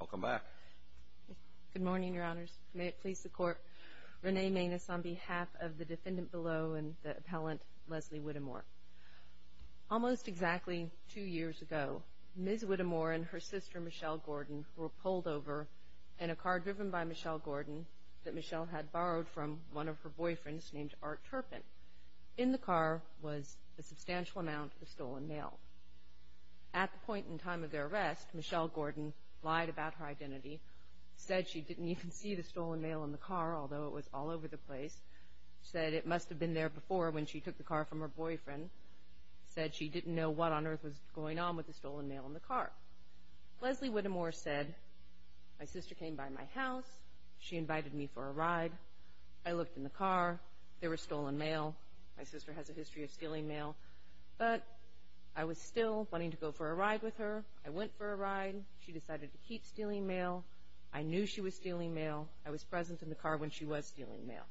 I'll come back. Good morning, your honors. May it please the court. Renee Maness on behalf of the defendant below and the appellant Leslie Whittemore. Almost exactly two years ago, Ms. Whittemore and her sister Michelle Gordon were pulled over in a car driven by Michelle Gordon that Michelle had borrowed from one of her boyfriends named Art Turpin. In the car was a substantial amount of stolen mail. At the point in time of their arrest, Michelle Gordon lied about her identity, said she didn't even see the stolen mail in the car, although it was all over the place, said it must have been there before when she took the car from her boyfriend, said she didn't know what on earth was going on with the stolen mail in the car. Leslie Whittemore said, my sister came by my house, she invited me for a ride, I looked in the car, there was stolen mail, my sister has a history of stealing mail, but I was still wanting to go for a ride with her, I went for a ride, she decided to keep stealing mail, I knew she was stealing mail, I was present in the car when she was stealing mail.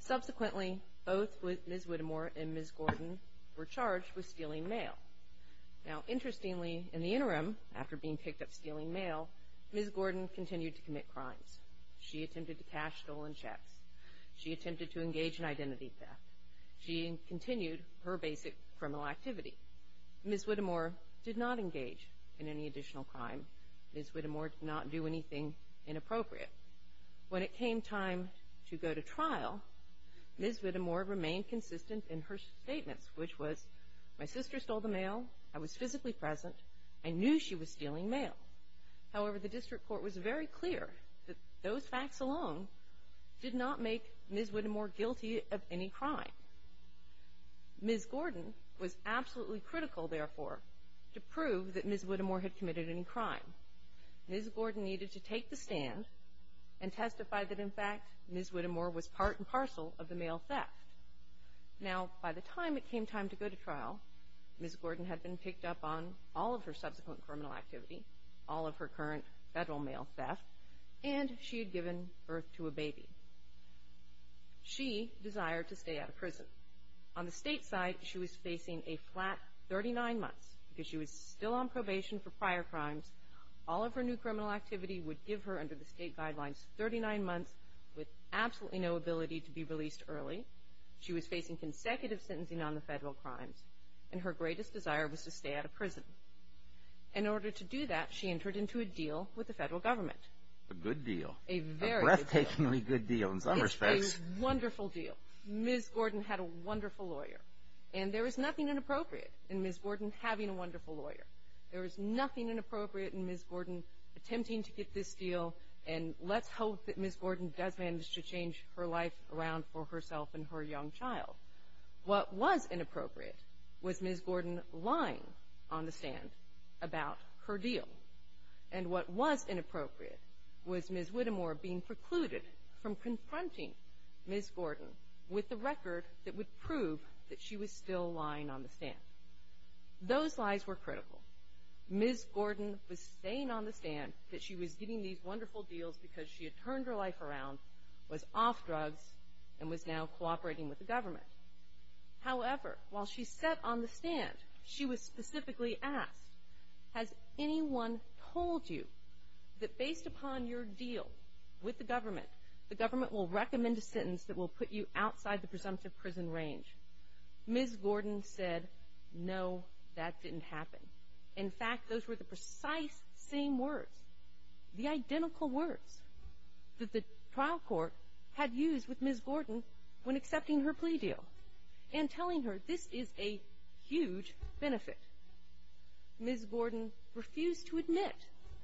Subsequently, both Ms. Whittemore and Ms. Gordon were charged with stealing mail. Now interestingly, in the interim, after being picked up stealing mail, Ms. Gordon continued to commit crimes. She attempted to cash stolen checks, she attempted to continue her basic criminal activity. Ms. Whittemore did not engage in any additional crime. Ms. Whittemore did not do anything inappropriate. When it came time to go to trial, Ms. Whittemore remained consistent in her statements, which was, my sister stole the mail, I was physically present, I knew she was stealing mail. However, the district court was very clear that those facts alone did not make Ms. Whittemore guilty of any crime. Ms. Gordon was absolutely critical, therefore, to prove that Ms. Whittemore had committed any crime. Ms. Gordon needed to take the stand and testify that, in fact, Ms. Whittemore was part and parcel of the mail theft. Now, by the time it came time to go to trial, Ms. Gordon had been picked up on all of her subsequent criminal activity, all of her current federal mail theft, and she had given birth to a baby. She desired to stay out of prison. On the state side, she was facing a flat 39 months, because she was still on probation for prior crimes. All of her new criminal activity would give her, under the state guidelines, 39 months with absolutely no ability to be released early. She was facing consecutive sentencing on the federal crimes, and her greatest desire was to stay out of prison. In order to do that, she entered into a deal with the federal government. A good deal. A very good deal. A breathtakingly good deal, in some respects. It's a wonderful deal. Ms. Gordon had a wonderful lawyer, and there is nothing inappropriate in Ms. Gordon having a wonderful lawyer. There is nothing inappropriate in Ms. Gordon attempting to get this deal, and let's hope that Ms. Gordon does manage to change her life around for herself and her young child. What was inappropriate was Ms. Gordon lying on the stand about her deal, and what was inappropriate was Ms. Whittemore being precluded from confronting Ms. Gordon with the record that would prove that she was still lying on the stand. Those lies were critical. Ms. Gordon was staying on the stand that she was getting these wonderful deals because she had turned her life around, was off drugs, and was now cooperating with the government. However, while she sat on the stand, she was specifically asked, has anyone told you that based upon your deal with the government, the government will recommend a sentence that will put you outside the presumptive prison range? Ms. Gordon said, no, that didn't happen. In fact, those were the precise same words, the identical words, that the trial court had used with Ms. Gordon when accepting her plea deal, and telling her, this is a huge benefit. Ms. Gordon refused to admit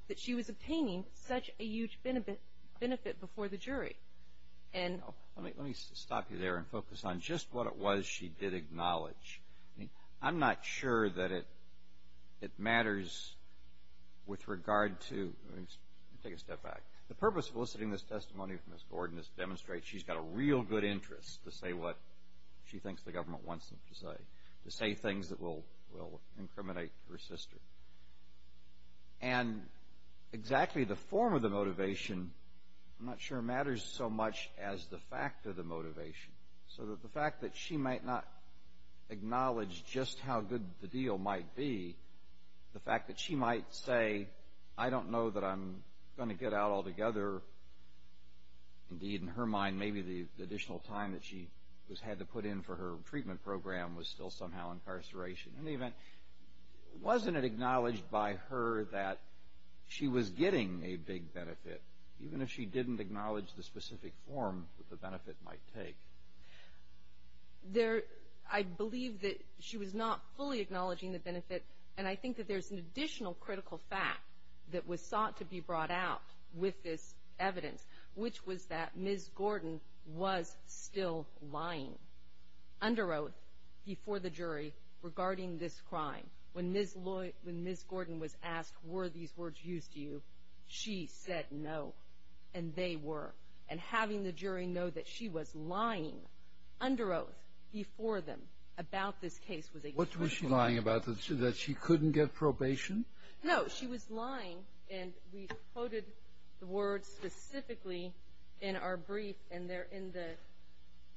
that she was obtaining such a huge benefit before the jury. Let me stop you there and focus on just what it was she did acknowledge. I'm not sure that it matters with regard to, let me take a step back, the purpose of soliciting this testimony from Ms. Gordon is to demonstrate she's got a real good interest to say what she thinks the government wants her to say, to say things that will incriminate her sister. And exactly the form of the motivation, I'm not sure, matters so much as the fact of the motivation. So that the fact that she might not acknowledge just how good the deal might be, the fact that she might say, I don't know that I'm going to get out altogether. Indeed, in her mind, maybe the additional time that she had to put in for her treatment program was still somehow incarceration. In any event, wasn't it acknowledged by her that she was getting a big benefit, even if she didn't acknowledge the specific form that the benefit might take? There, I believe that she was not fully acknowledging the benefit, and I think that there's an additional critical fact that was sought to be brought out with this evidence, which was that Ms. Gordon was still lying under oath before the jury regarding this crime. When Ms. Gordon was asked, were these words used to you, she said no, and they were. And having the jury know that she was lying under oath before them about this case was a crucial thing. What was she lying about, that she couldn't get probation? No, she was lying, and we quoted the words specifically in our brief, and they're in the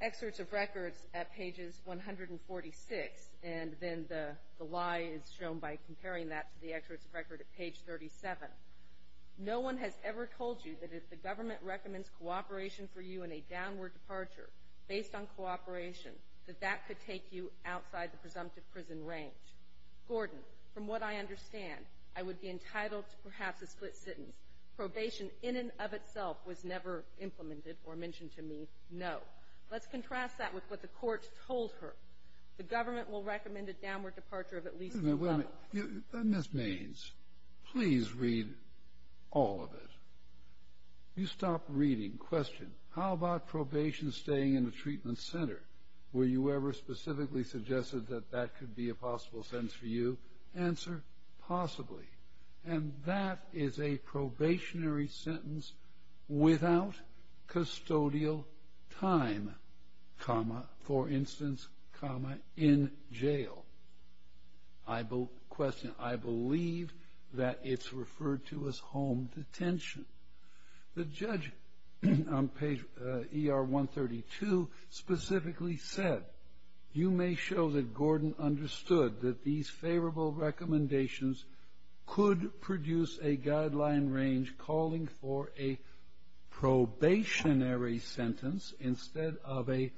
excerpts of records at pages 146, and then the lie is shown by comparing that to the excerpts of record at page 37. No one has ever told you that if the government recommends cooperation for you in a downward departure based on presumptive prison range. Gordon, from what I understand, I would be entitled to perhaps a split sentence. Probation in and of itself was never implemented or mentioned to me. No. Let's contrast that with what the court told her. The government will recommend a downward departure of at least 11. Wait a minute. Ms. Mains, please read all of it. You stopped reading. Question. How about probation staying in the treatment center? Were you ever specifically suggested that that could be a possible sentence for you? Answer. Possibly. And that is a probationary sentence without custodial time, comma, for instance, comma, in jail. Question. I believe that it's referred to as home detention. The judge on page ER 132 specifically said, you may show that Gordon understood that these favorable recommendations could produce a guideline range calling for a probationary sentence instead of a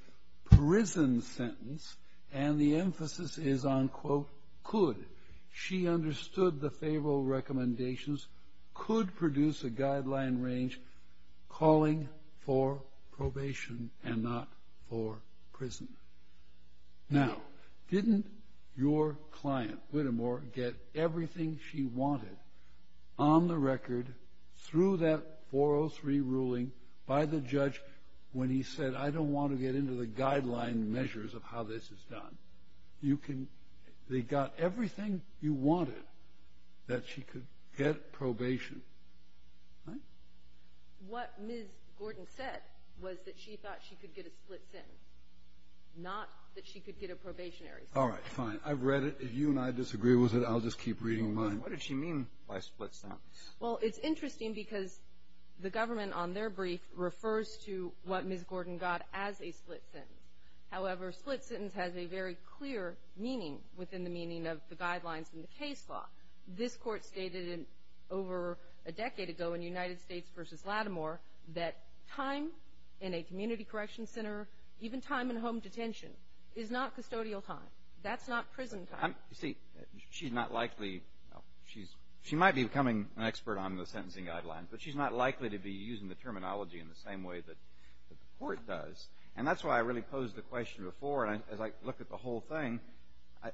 prison sentence, and the emphasis is on, quote, could. She understood the favorable recommendations could produce a guideline range calling for probation and not for prison. Now, didn't your client, Whittemore, get everything she wanted on the record through that 403 ruling by the judge when he said, I don't want to get into the guideline measures of how this is done? You can...they got everything you wanted that she could get probation, right? What Ms. Gordon said was that she thought she could get a split sentence, not that she could get a probationary sentence. All right, fine. I've read it. If you and I disagree with it, I'll just keep reading mine. What did she mean by split sentence? Well, it's interesting because the government on their brief refers to what Ms. Gordon got as a split sentence. However, split sentence has a very clear meaning within the meaning of the law. This court stated over a decade ago in United States v. Lattimore that time in a community correction center, even time in home detention, is not custodial time. That's not prison time. You see, she's not likely...she might be becoming an expert on the sentencing guidelines, but she's not likely to be using the terminology in the same way that the court does. And that's why I really posed the question before, and as I look at the whole thing,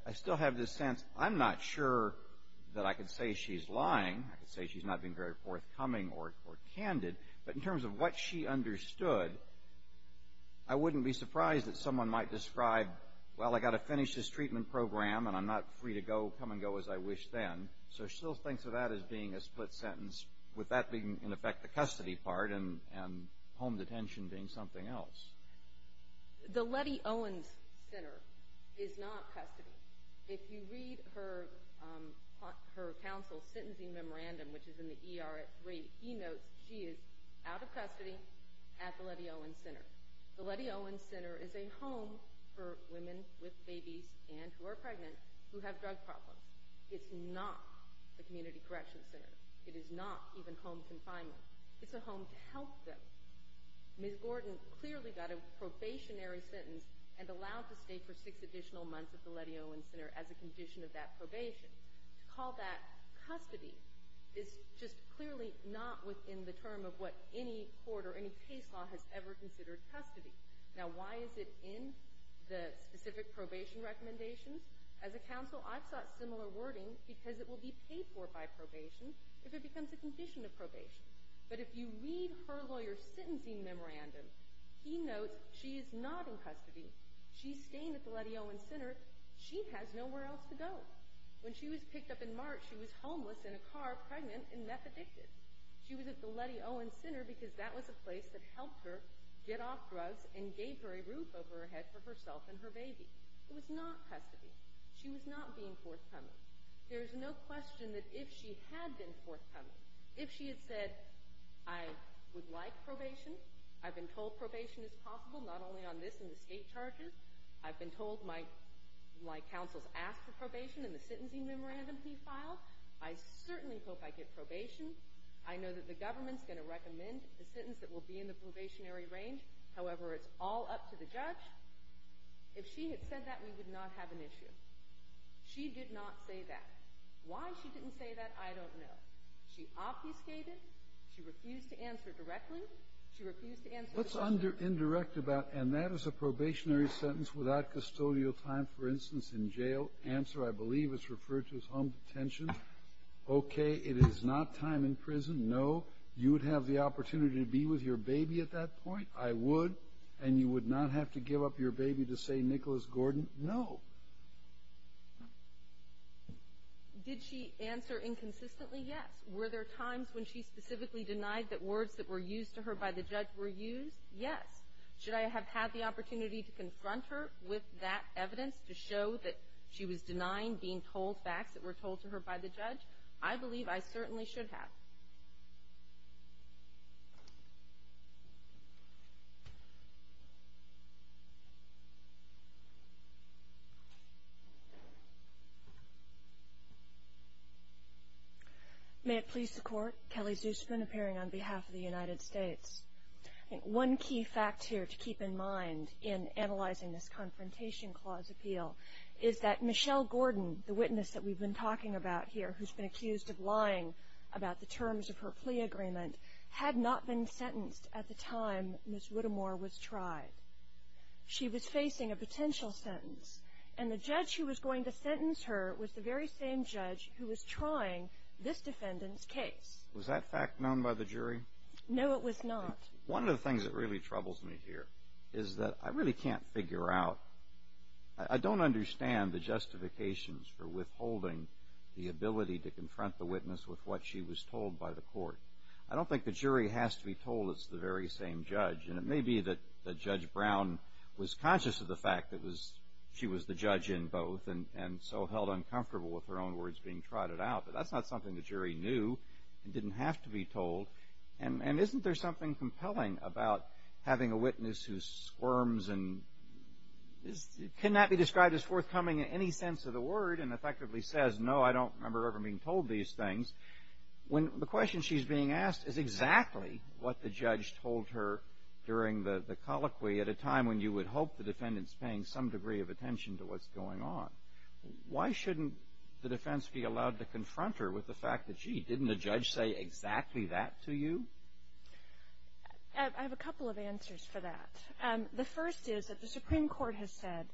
I still have this sense, I'm not sure that I could say she's lying. I could say she's not being very forthcoming or candid. But in terms of what she understood, I wouldn't be surprised if someone might describe, well, I've got to finish this treatment program and I'm not free to go, come and go as I wish then. So she still thinks of that as being a split sentence, with that being, in effect, the custody part and home detention being something else. The Lettie Owens Center is not custody. If you read her counsel's sentencing memorandum, which is in the ER at 3, he notes she is out of custody at the Lettie Owens Center. The Lettie Owens Center is a home for women with babies and who are pregnant who have drug problems. It's not a community correction center. It is not even home confinement. It's a home to help them. Ms. Gordon clearly got a probationary sentence and allowed to stay for six additional months at the Lettie Owens Center as a condition of that probation. To call that custody is just clearly not within the term of what any court or any case law has ever considered custody. Now, why is it in the specific probation recommendations? As a counsel, I've sought similar wording because it will be paid for by probation if it becomes a condition of probation. But if you read her lawyer's sentencing memorandum, he notes she is not in custody. She is not being forthcoming. If she had been at the Lettie Owens Center, she has nowhere else to go. When she was picked up in March, she was homeless in a car, pregnant, and meth-addicted. She was at the Lettie Owens Center because that was a place that helped her get off drugs and gave her a roof over her head for herself and her baby. It was not custody. She was not being forthcoming. There is no question that if she had been forthcoming, if she had said, I would like probation, I've been told probation is possible not only on this and the state charges. I've been told my counsel's asked for probation in the sentencing memorandum he filed. I certainly hope I get probation. I know that the government's going to recommend the sentence that will be in the probationary range. However, it's all up to the judge. If she had said that, we would not have an issue. She did not say that. Why she didn't say that, I don't know. She obfuscated. She refused to answer directly. She refused to answer... What's indirect about, and that is a probationary sentence without custodial time, for instance, in jail. Answer, I believe, is referred to as home detention. Okay, it is not time in prison. No. You would have the opportunity to be with your baby at that point. I would. And you would not have to give up your baby to say, Nicholas Gordon. No. Did she answer inconsistently? Yes. Were there times when she specifically denied that words that were used to her by the judge were used? Yes. Should I have had the opportunity to confront her with that evidence to show that she was denying being told facts that were told to her by the judge? I believe I certainly should have. May it please the court, Kelly Zusman, appearing on behalf of the United States. One key fact here to keep in mind in analyzing this Confrontation Clause appeal is that Michelle Gordon, the witness that we've been talking about here, who's been accused of lying about the terms of her plea agreement, had not been sentenced at the time Ms. Whittemore was tried. She was facing a potential sentence, and the judge who was going to sentence her was the very same judge who was trying this defendant's case. Was that fact known by the jury? No, it was not. One of the things that really troubles me here is that I really can't figure out, I don't understand the justifications for withholding the ability to confront the witness with what she was told by the court. I don't think the jury has to be told it's the very same judge, and it may be that Judge Brown was conscious of the fact that she was the judge in both, and so held uncomfortable with her own words being trotted out. But that's not something the jury knew and didn't have to be told. And isn't there something compelling about having a witness who squirms and cannot be convinced that she's the judge? The question she's being asked is exactly what the judge told her during the colloquy at a time when you would hope the defendant's paying some degree of attention to what's going on. Why shouldn't the defense be allowed to confront her with the fact that, gee, didn't the judge say exactly that to you? I have a couple of answers for that. The first is that the Supreme Court has said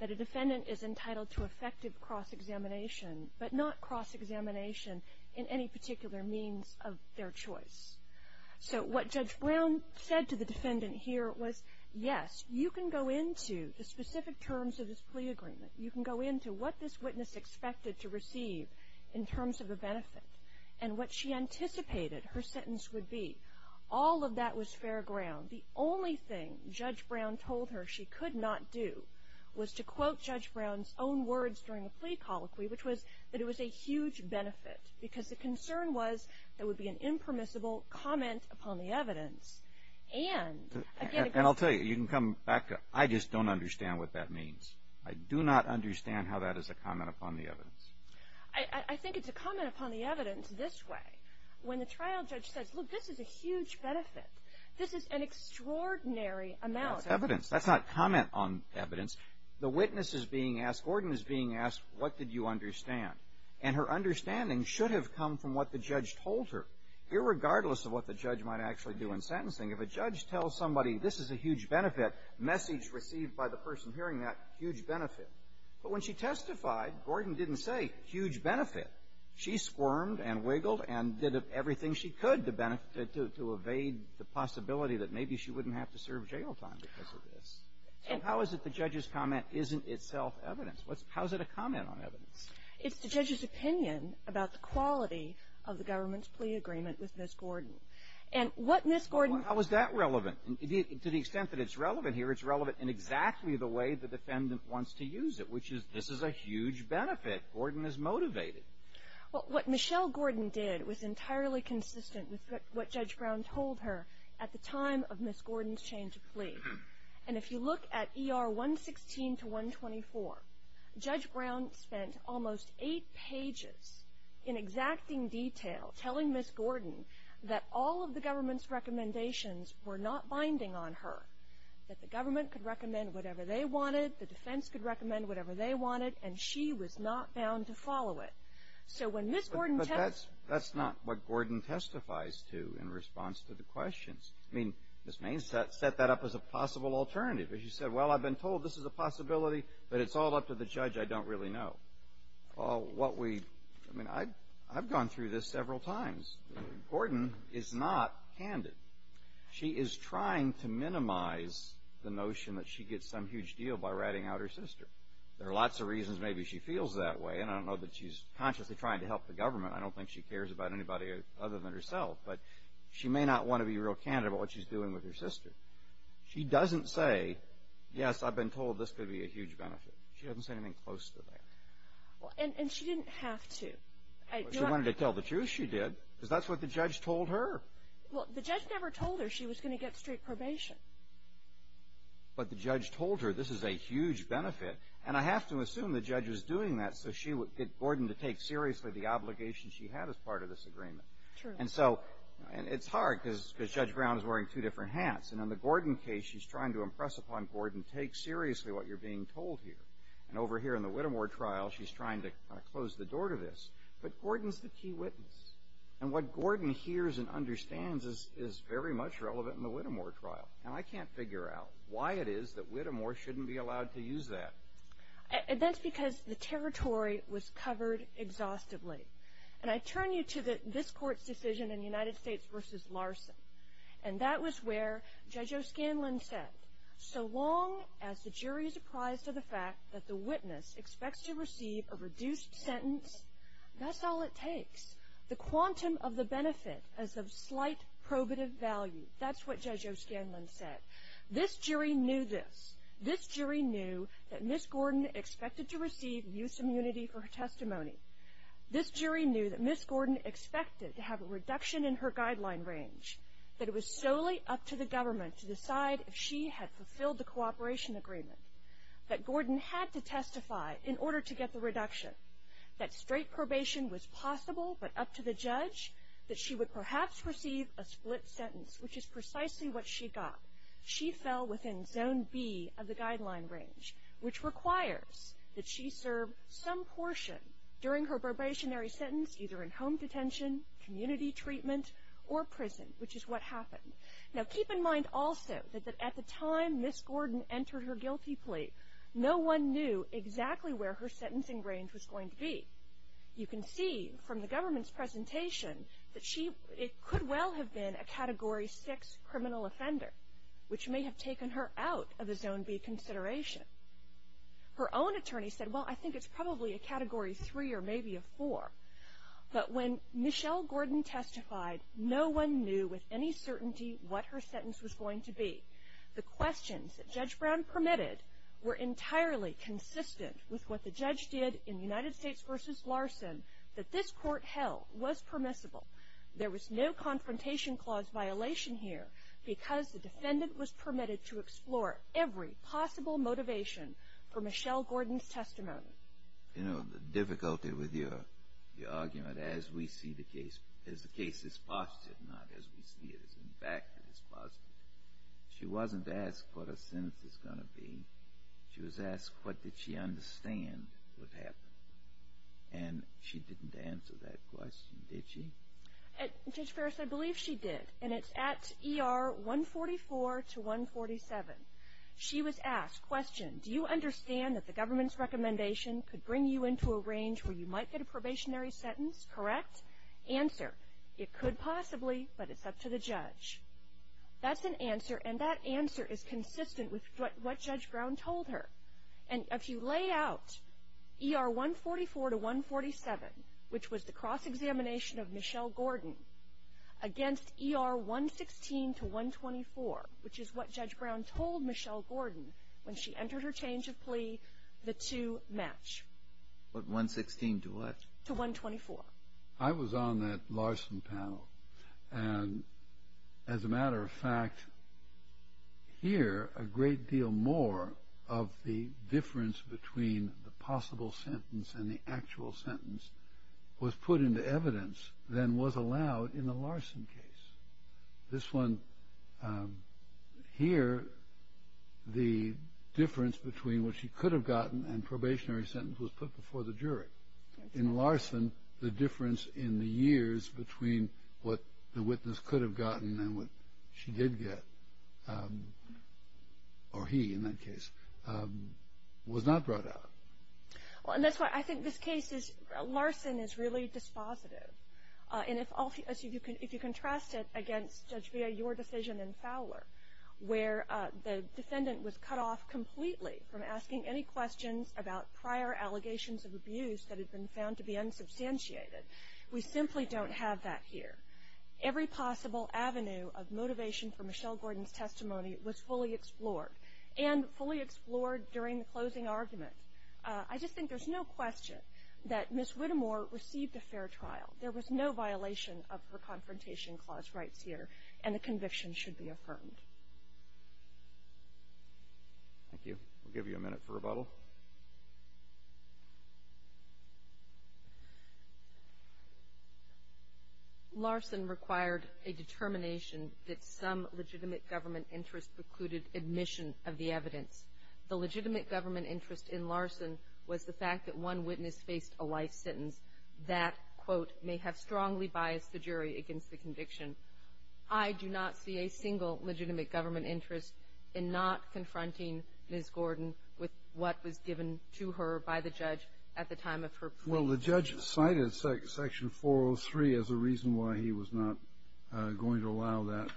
that a defendant is entitled to effective cross-examination, but not cross-examination in any particular means of their choice. So what Judge Brown said to the defendant here was, yes, you can go into the specific terms of this plea agreement. You can go into what this witness expected to receive in terms of the benefit. And what she anticipated her sentence would be. All of that was fair ground. The only thing that was not fair was Judge Brown's own words during the plea colloquy, which was that it was a huge benefit because the concern was there would be an impermissible comment upon the evidence. And I'll tell you, you can come back. I just don't understand what that means. I do not understand how that is a comment upon the evidence. I think it's a comment upon the evidence this way. When the trial judge says, look, this is a huge benefit. This is an extraordinary amount. That's evidence. That's not comment on evidence. The witness is being asked – Gordon is being asked, what did you understand? And her understanding should have come from what the judge told her, irregardless of what the judge might actually do in sentencing. If a judge tells somebody, this is a huge benefit, message received by the person hearing that, huge benefit. But when she testified, Gordon didn't say huge benefit. She squirmed and wiggled and did everything she could to benefit – to evade the possibility that maybe she would be sentenced in real time because of this. So how is it the judge's comment isn't itself evidence? How is it a comment on evidence? It's the judge's opinion about the quality of the government's plea agreement with Ms. Gordon. And what Ms. Gordon – Well, how is that relevant? To the extent that it's relevant here, it's relevant in exactly the way the defendant wants to use it, which is this is a huge benefit. Gordon is motivated. Well, what Michelle Gordon did was entirely consistent with what Judge Brown told her at the time of Ms. Gordon's change of plea. And if you look at ER 116 to 124, Judge Brown spent almost eight pages in exacting detail telling Ms. Gordon that all of the government's recommendations were not binding on her, that the government could recommend whatever they wanted, the defense could recommend whatever they wanted, and she was not bound to follow it. So when Ms. Gordon testified – I mean, Ms. Maines set that up as a possible alternative. She said, well, I've been told this is a possibility, but it's all up to the judge. I don't really know. Well, what we – I mean, I've gone through this several times. Gordon is not candid. She is trying to minimize the notion that she gets some huge deal by ratting out her sister. There are lots of reasons maybe she feels that way, and I don't know that she's consciously trying to help the government. I don't think she cares about anybody other than herself. But she may not want to be real candid about what she's doing with her sister. She doesn't say, yes, I've been told this could be a huge benefit. She doesn't say anything close to that. Well, and she didn't have to. Well, she wanted to tell the truth, she did, because that's what the judge told her. Well, the judge never told her she was going to get straight probation. But the judge told her this is a huge benefit, and I have to assume the judge was doing that so she would get Gordon to take seriously the obligation she had as part of this agreement. True. And so it's hard, because Judge Brown is wearing two different hats. And in the Gordon case, she's trying to impress upon Gordon, take seriously what you're being told here. And over here in the Whittemore trial, she's trying to close the door to this. But Gordon's the key witness, and what Gordon hears and understands is very much relevant in the Whittemore trial. And I can't figure out why it is that Whittemore shouldn't be allowed to use that. That's because the territory was covered exhaustively. And I turn you to this court's decision in United States v. Larson, and that was where Judge O'Scanlan said, so long as the jury is apprised of the fact that the witness expects to receive a reduced sentence, that's all it takes. The quantum of the benefit is of slight probative value. That's what Judge O'Scanlan said. This jury knew this. testimony. This jury knew that Ms. Gordon expected to have a reduction in her guideline range, that it was solely up to the government to decide if she had fulfilled the cooperation agreement. That Gordon had to testify in order to get the reduction. That straight probation was possible, but up to the judge, that she would perhaps receive a split sentence, which is precisely what she got. She fell within zone B of the guideline range, which requires that she serve some portion during her probationary sentence, either in home detention, community treatment, or prison, which is what happened. Now keep in mind also that at the time Ms. Gordon entered her guilty plea, no one knew exactly where her sentencing range was going to be. You can see from the government's presentation that she, it could well have been a category six criminal offender, which may have taken her out of the zone B consideration. Her own attorney said, well I think it's probably a category three or maybe a four. But when Michelle Gordon testified, no one knew with any certainty what her sentence was going to be. The questions that Judge Brown permitted were entirely consistent with what the judge did in United States versus Larson, that this court held was permissible. There was no confrontation clause violation here, because the defendant was for Michelle Gordon's testimony. You know, the difficulty with your argument, as we see the case, as the case is posited, not as we see it, as in fact it is posited. She wasn't asked what her sentence was going to be. She was asked what did she understand would happen. And she didn't answer that question, did she? Judge Ferris, I believe she did. And it's at ER 144 to 147. She was asked, question, do you understand that the government's recommendation could bring you into a range where you might get a probationary sentence, correct? Answer, it could possibly, but it's up to the judge. That's an answer, and that answer is consistent with what Judge Brown told her. And if you lay out ER 144 to 147, which was the cross-examination of Michelle Gordon, when she entered her change of plea, the two match. But 116 to what? To 124. I was on that Larson panel, and as a matter of fact, here, a great deal more of the difference between the possible sentence and the actual sentence was put into evidence than was allowed in the Larson case. This one, here, the difference between what she could have gotten and probationary sentence was put before the jury. In Larson, the difference in the years between what the witness could have gotten and what she did get, or he in that case, was not brought out. Well, and that's why I think this case is, Larson is really dispositive. And if you contrast it against Judge Villa, your decision in Fowler, where the defendant was cut off completely from asking any questions about prior allegations of abuse that had been found to be unsubstantiated. We simply don't have that here. Every possible avenue of motivation for Michelle Gordon's testimony was fully explored. And fully explored during the closing argument. I just think there's no question that Miss Whittemore received a fair trial. There was no violation of her confrontation clause rights here, and the conviction should be affirmed. Thank you. We'll give you a minute for rebuttal. Larson required a determination that some legitimate government interest precluded admission of the evidence. The legitimate government interest in Larson was the fact that one witness faced a life sentence that, quote, may have strongly biased the jury against the conviction. I do not see a single legitimate government interest in not confronting Miss Gordon with what was given to her by the judge at the time of her plea. Well, the judge cited section 403 as a reason why he was not going to allow that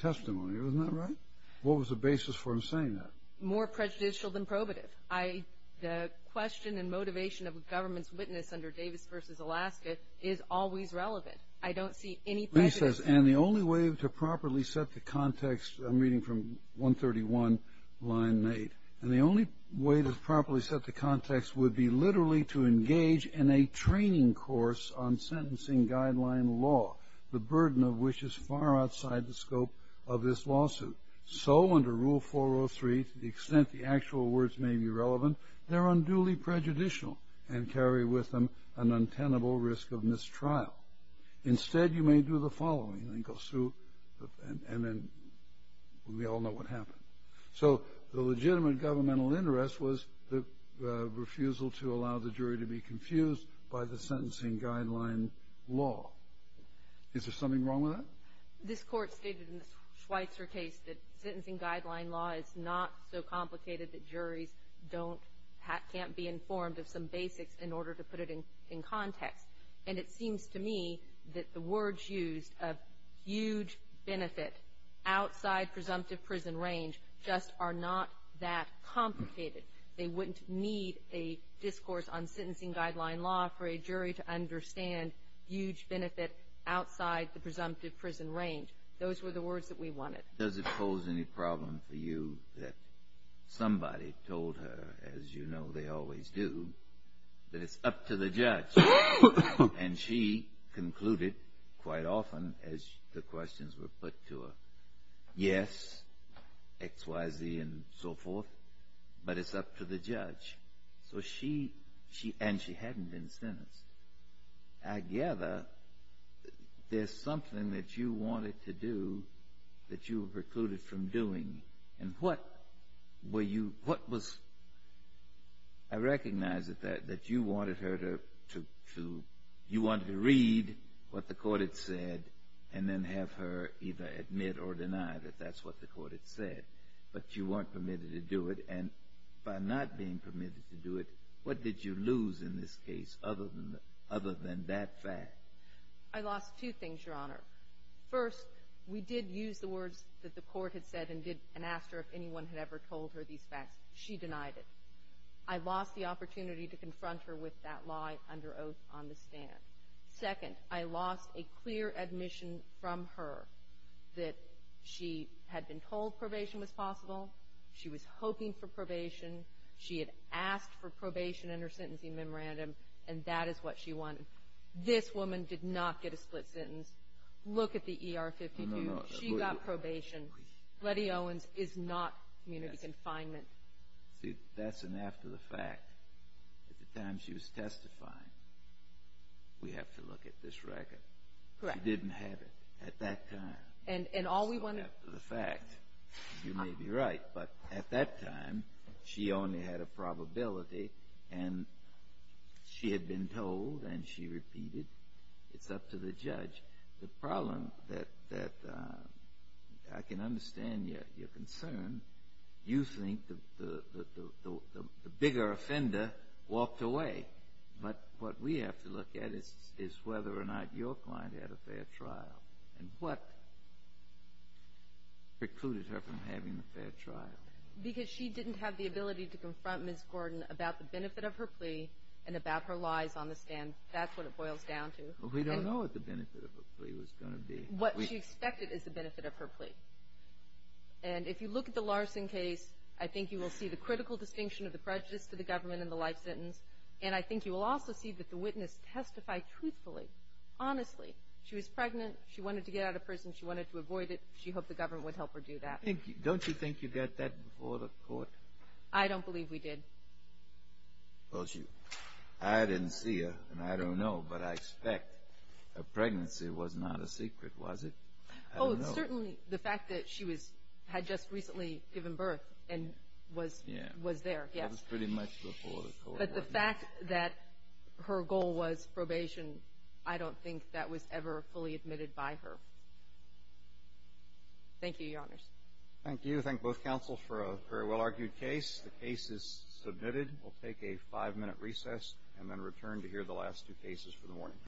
testimony. Isn't that right? What was the basis for him saying that? More prejudicial than probative. The question and motivation of a government's witness under Davis versus Alaska is always relevant. I don't see any prejudice. And the only way to properly set the context, I'm reading from 131, line eight. And the only way to properly set the context would be literally to engage in a training course on sentencing guideline law. The burden of which is far outside the scope of this lawsuit. So under rule 403, to the extent the actual words may be relevant, they're unduly prejudicial and carry with them an untenable risk of mistrial. Instead, you may do the following, and then we all know what happened. So the legitimate governmental interest was the refusal to allow the jury to be confused by the sentencing guideline law. Is there something wrong with that? This court stated in the Schweitzer case that sentencing guideline law is not so complicated that juries can't be informed of some basics in order to put it in context. And it seems to me that the words used of huge benefit outside presumptive prison range just are not that complicated. They wouldn't need a discourse on sentencing guideline law for prison range, those were the words that we wanted. Does it pose any problem for you that somebody told her, as you know they always do, that it's up to the judge. And she concluded quite often, as the questions were put to her, yes, x, y, z, and so forth, but it's up to the judge. So she, and she hadn't been sentenced. I gather there's something that you wanted to do that you were precluded from doing. And what were you, what was, I recognize that you wanted her to, to, to, you wanted to read what the court had said, and then have her either admit or deny that that's what the court had said. But you weren't permitted to do it, and by not being permitted to do it, what did you lose in this case other than, other than that fact? I lost two things, Your Honor. First, we did use the words that the court had said and did, and asked her if anyone had ever told her these facts. She denied it. I lost the opportunity to confront her with that lie under oath on the stand. Second, I lost a clear admission from her that she had been told probation was in her sentencing memorandum, and that is what she wanted. This woman did not get a split sentence. Look at the ER-52, she got probation. Lettie Owens is not community confinement. See, that's an after the fact. At the time she was testifying, we have to look at this record. Correct. She didn't have it at that time. And, and all we want to. So after the fact, you may be right, but at that time, she only had a probability, and she had been told, and she repeated. It's up to the judge. The problem that, that I can understand your, your concern. You think the, the, the, the, the, the, the bigger offender walked away. But what we have to look at is, is whether or not your client had a fair trial. And what precluded her from having a fair trial? Because she didn't have the ability to confront Ms. Gordon about the benefit of her plea, and about her lies on the stand. That's what it boils down to. We don't know what the benefit of a plea was going to be. What she expected is the benefit of her plea. And if you look at the Larson case, I think you will see the critical distinction of the prejudice to the government in the life sentence. And I think you will also see that the witness testified truthfully, honestly. She was pregnant, she wanted to get out of prison, she wanted to avoid it. She hoped the government would help her do that. I think, don't you think you got that before the court? I don't believe we did. Well, she, I didn't see her, and I don't know, but I expect a pregnancy was not a secret, was it? Oh, certainly, the fact that she was, had just recently given birth, and was. Yeah. Was there, yes. That was pretty much before the court. But the fact that her goal was probation, I don't think that was ever fully admitted by her. Thank you, Your Honors. Thank you. Thank both counsel for a very well argued case. The case is submitted. We'll take a five minute recess, and then return to hear the last two cases for the morning.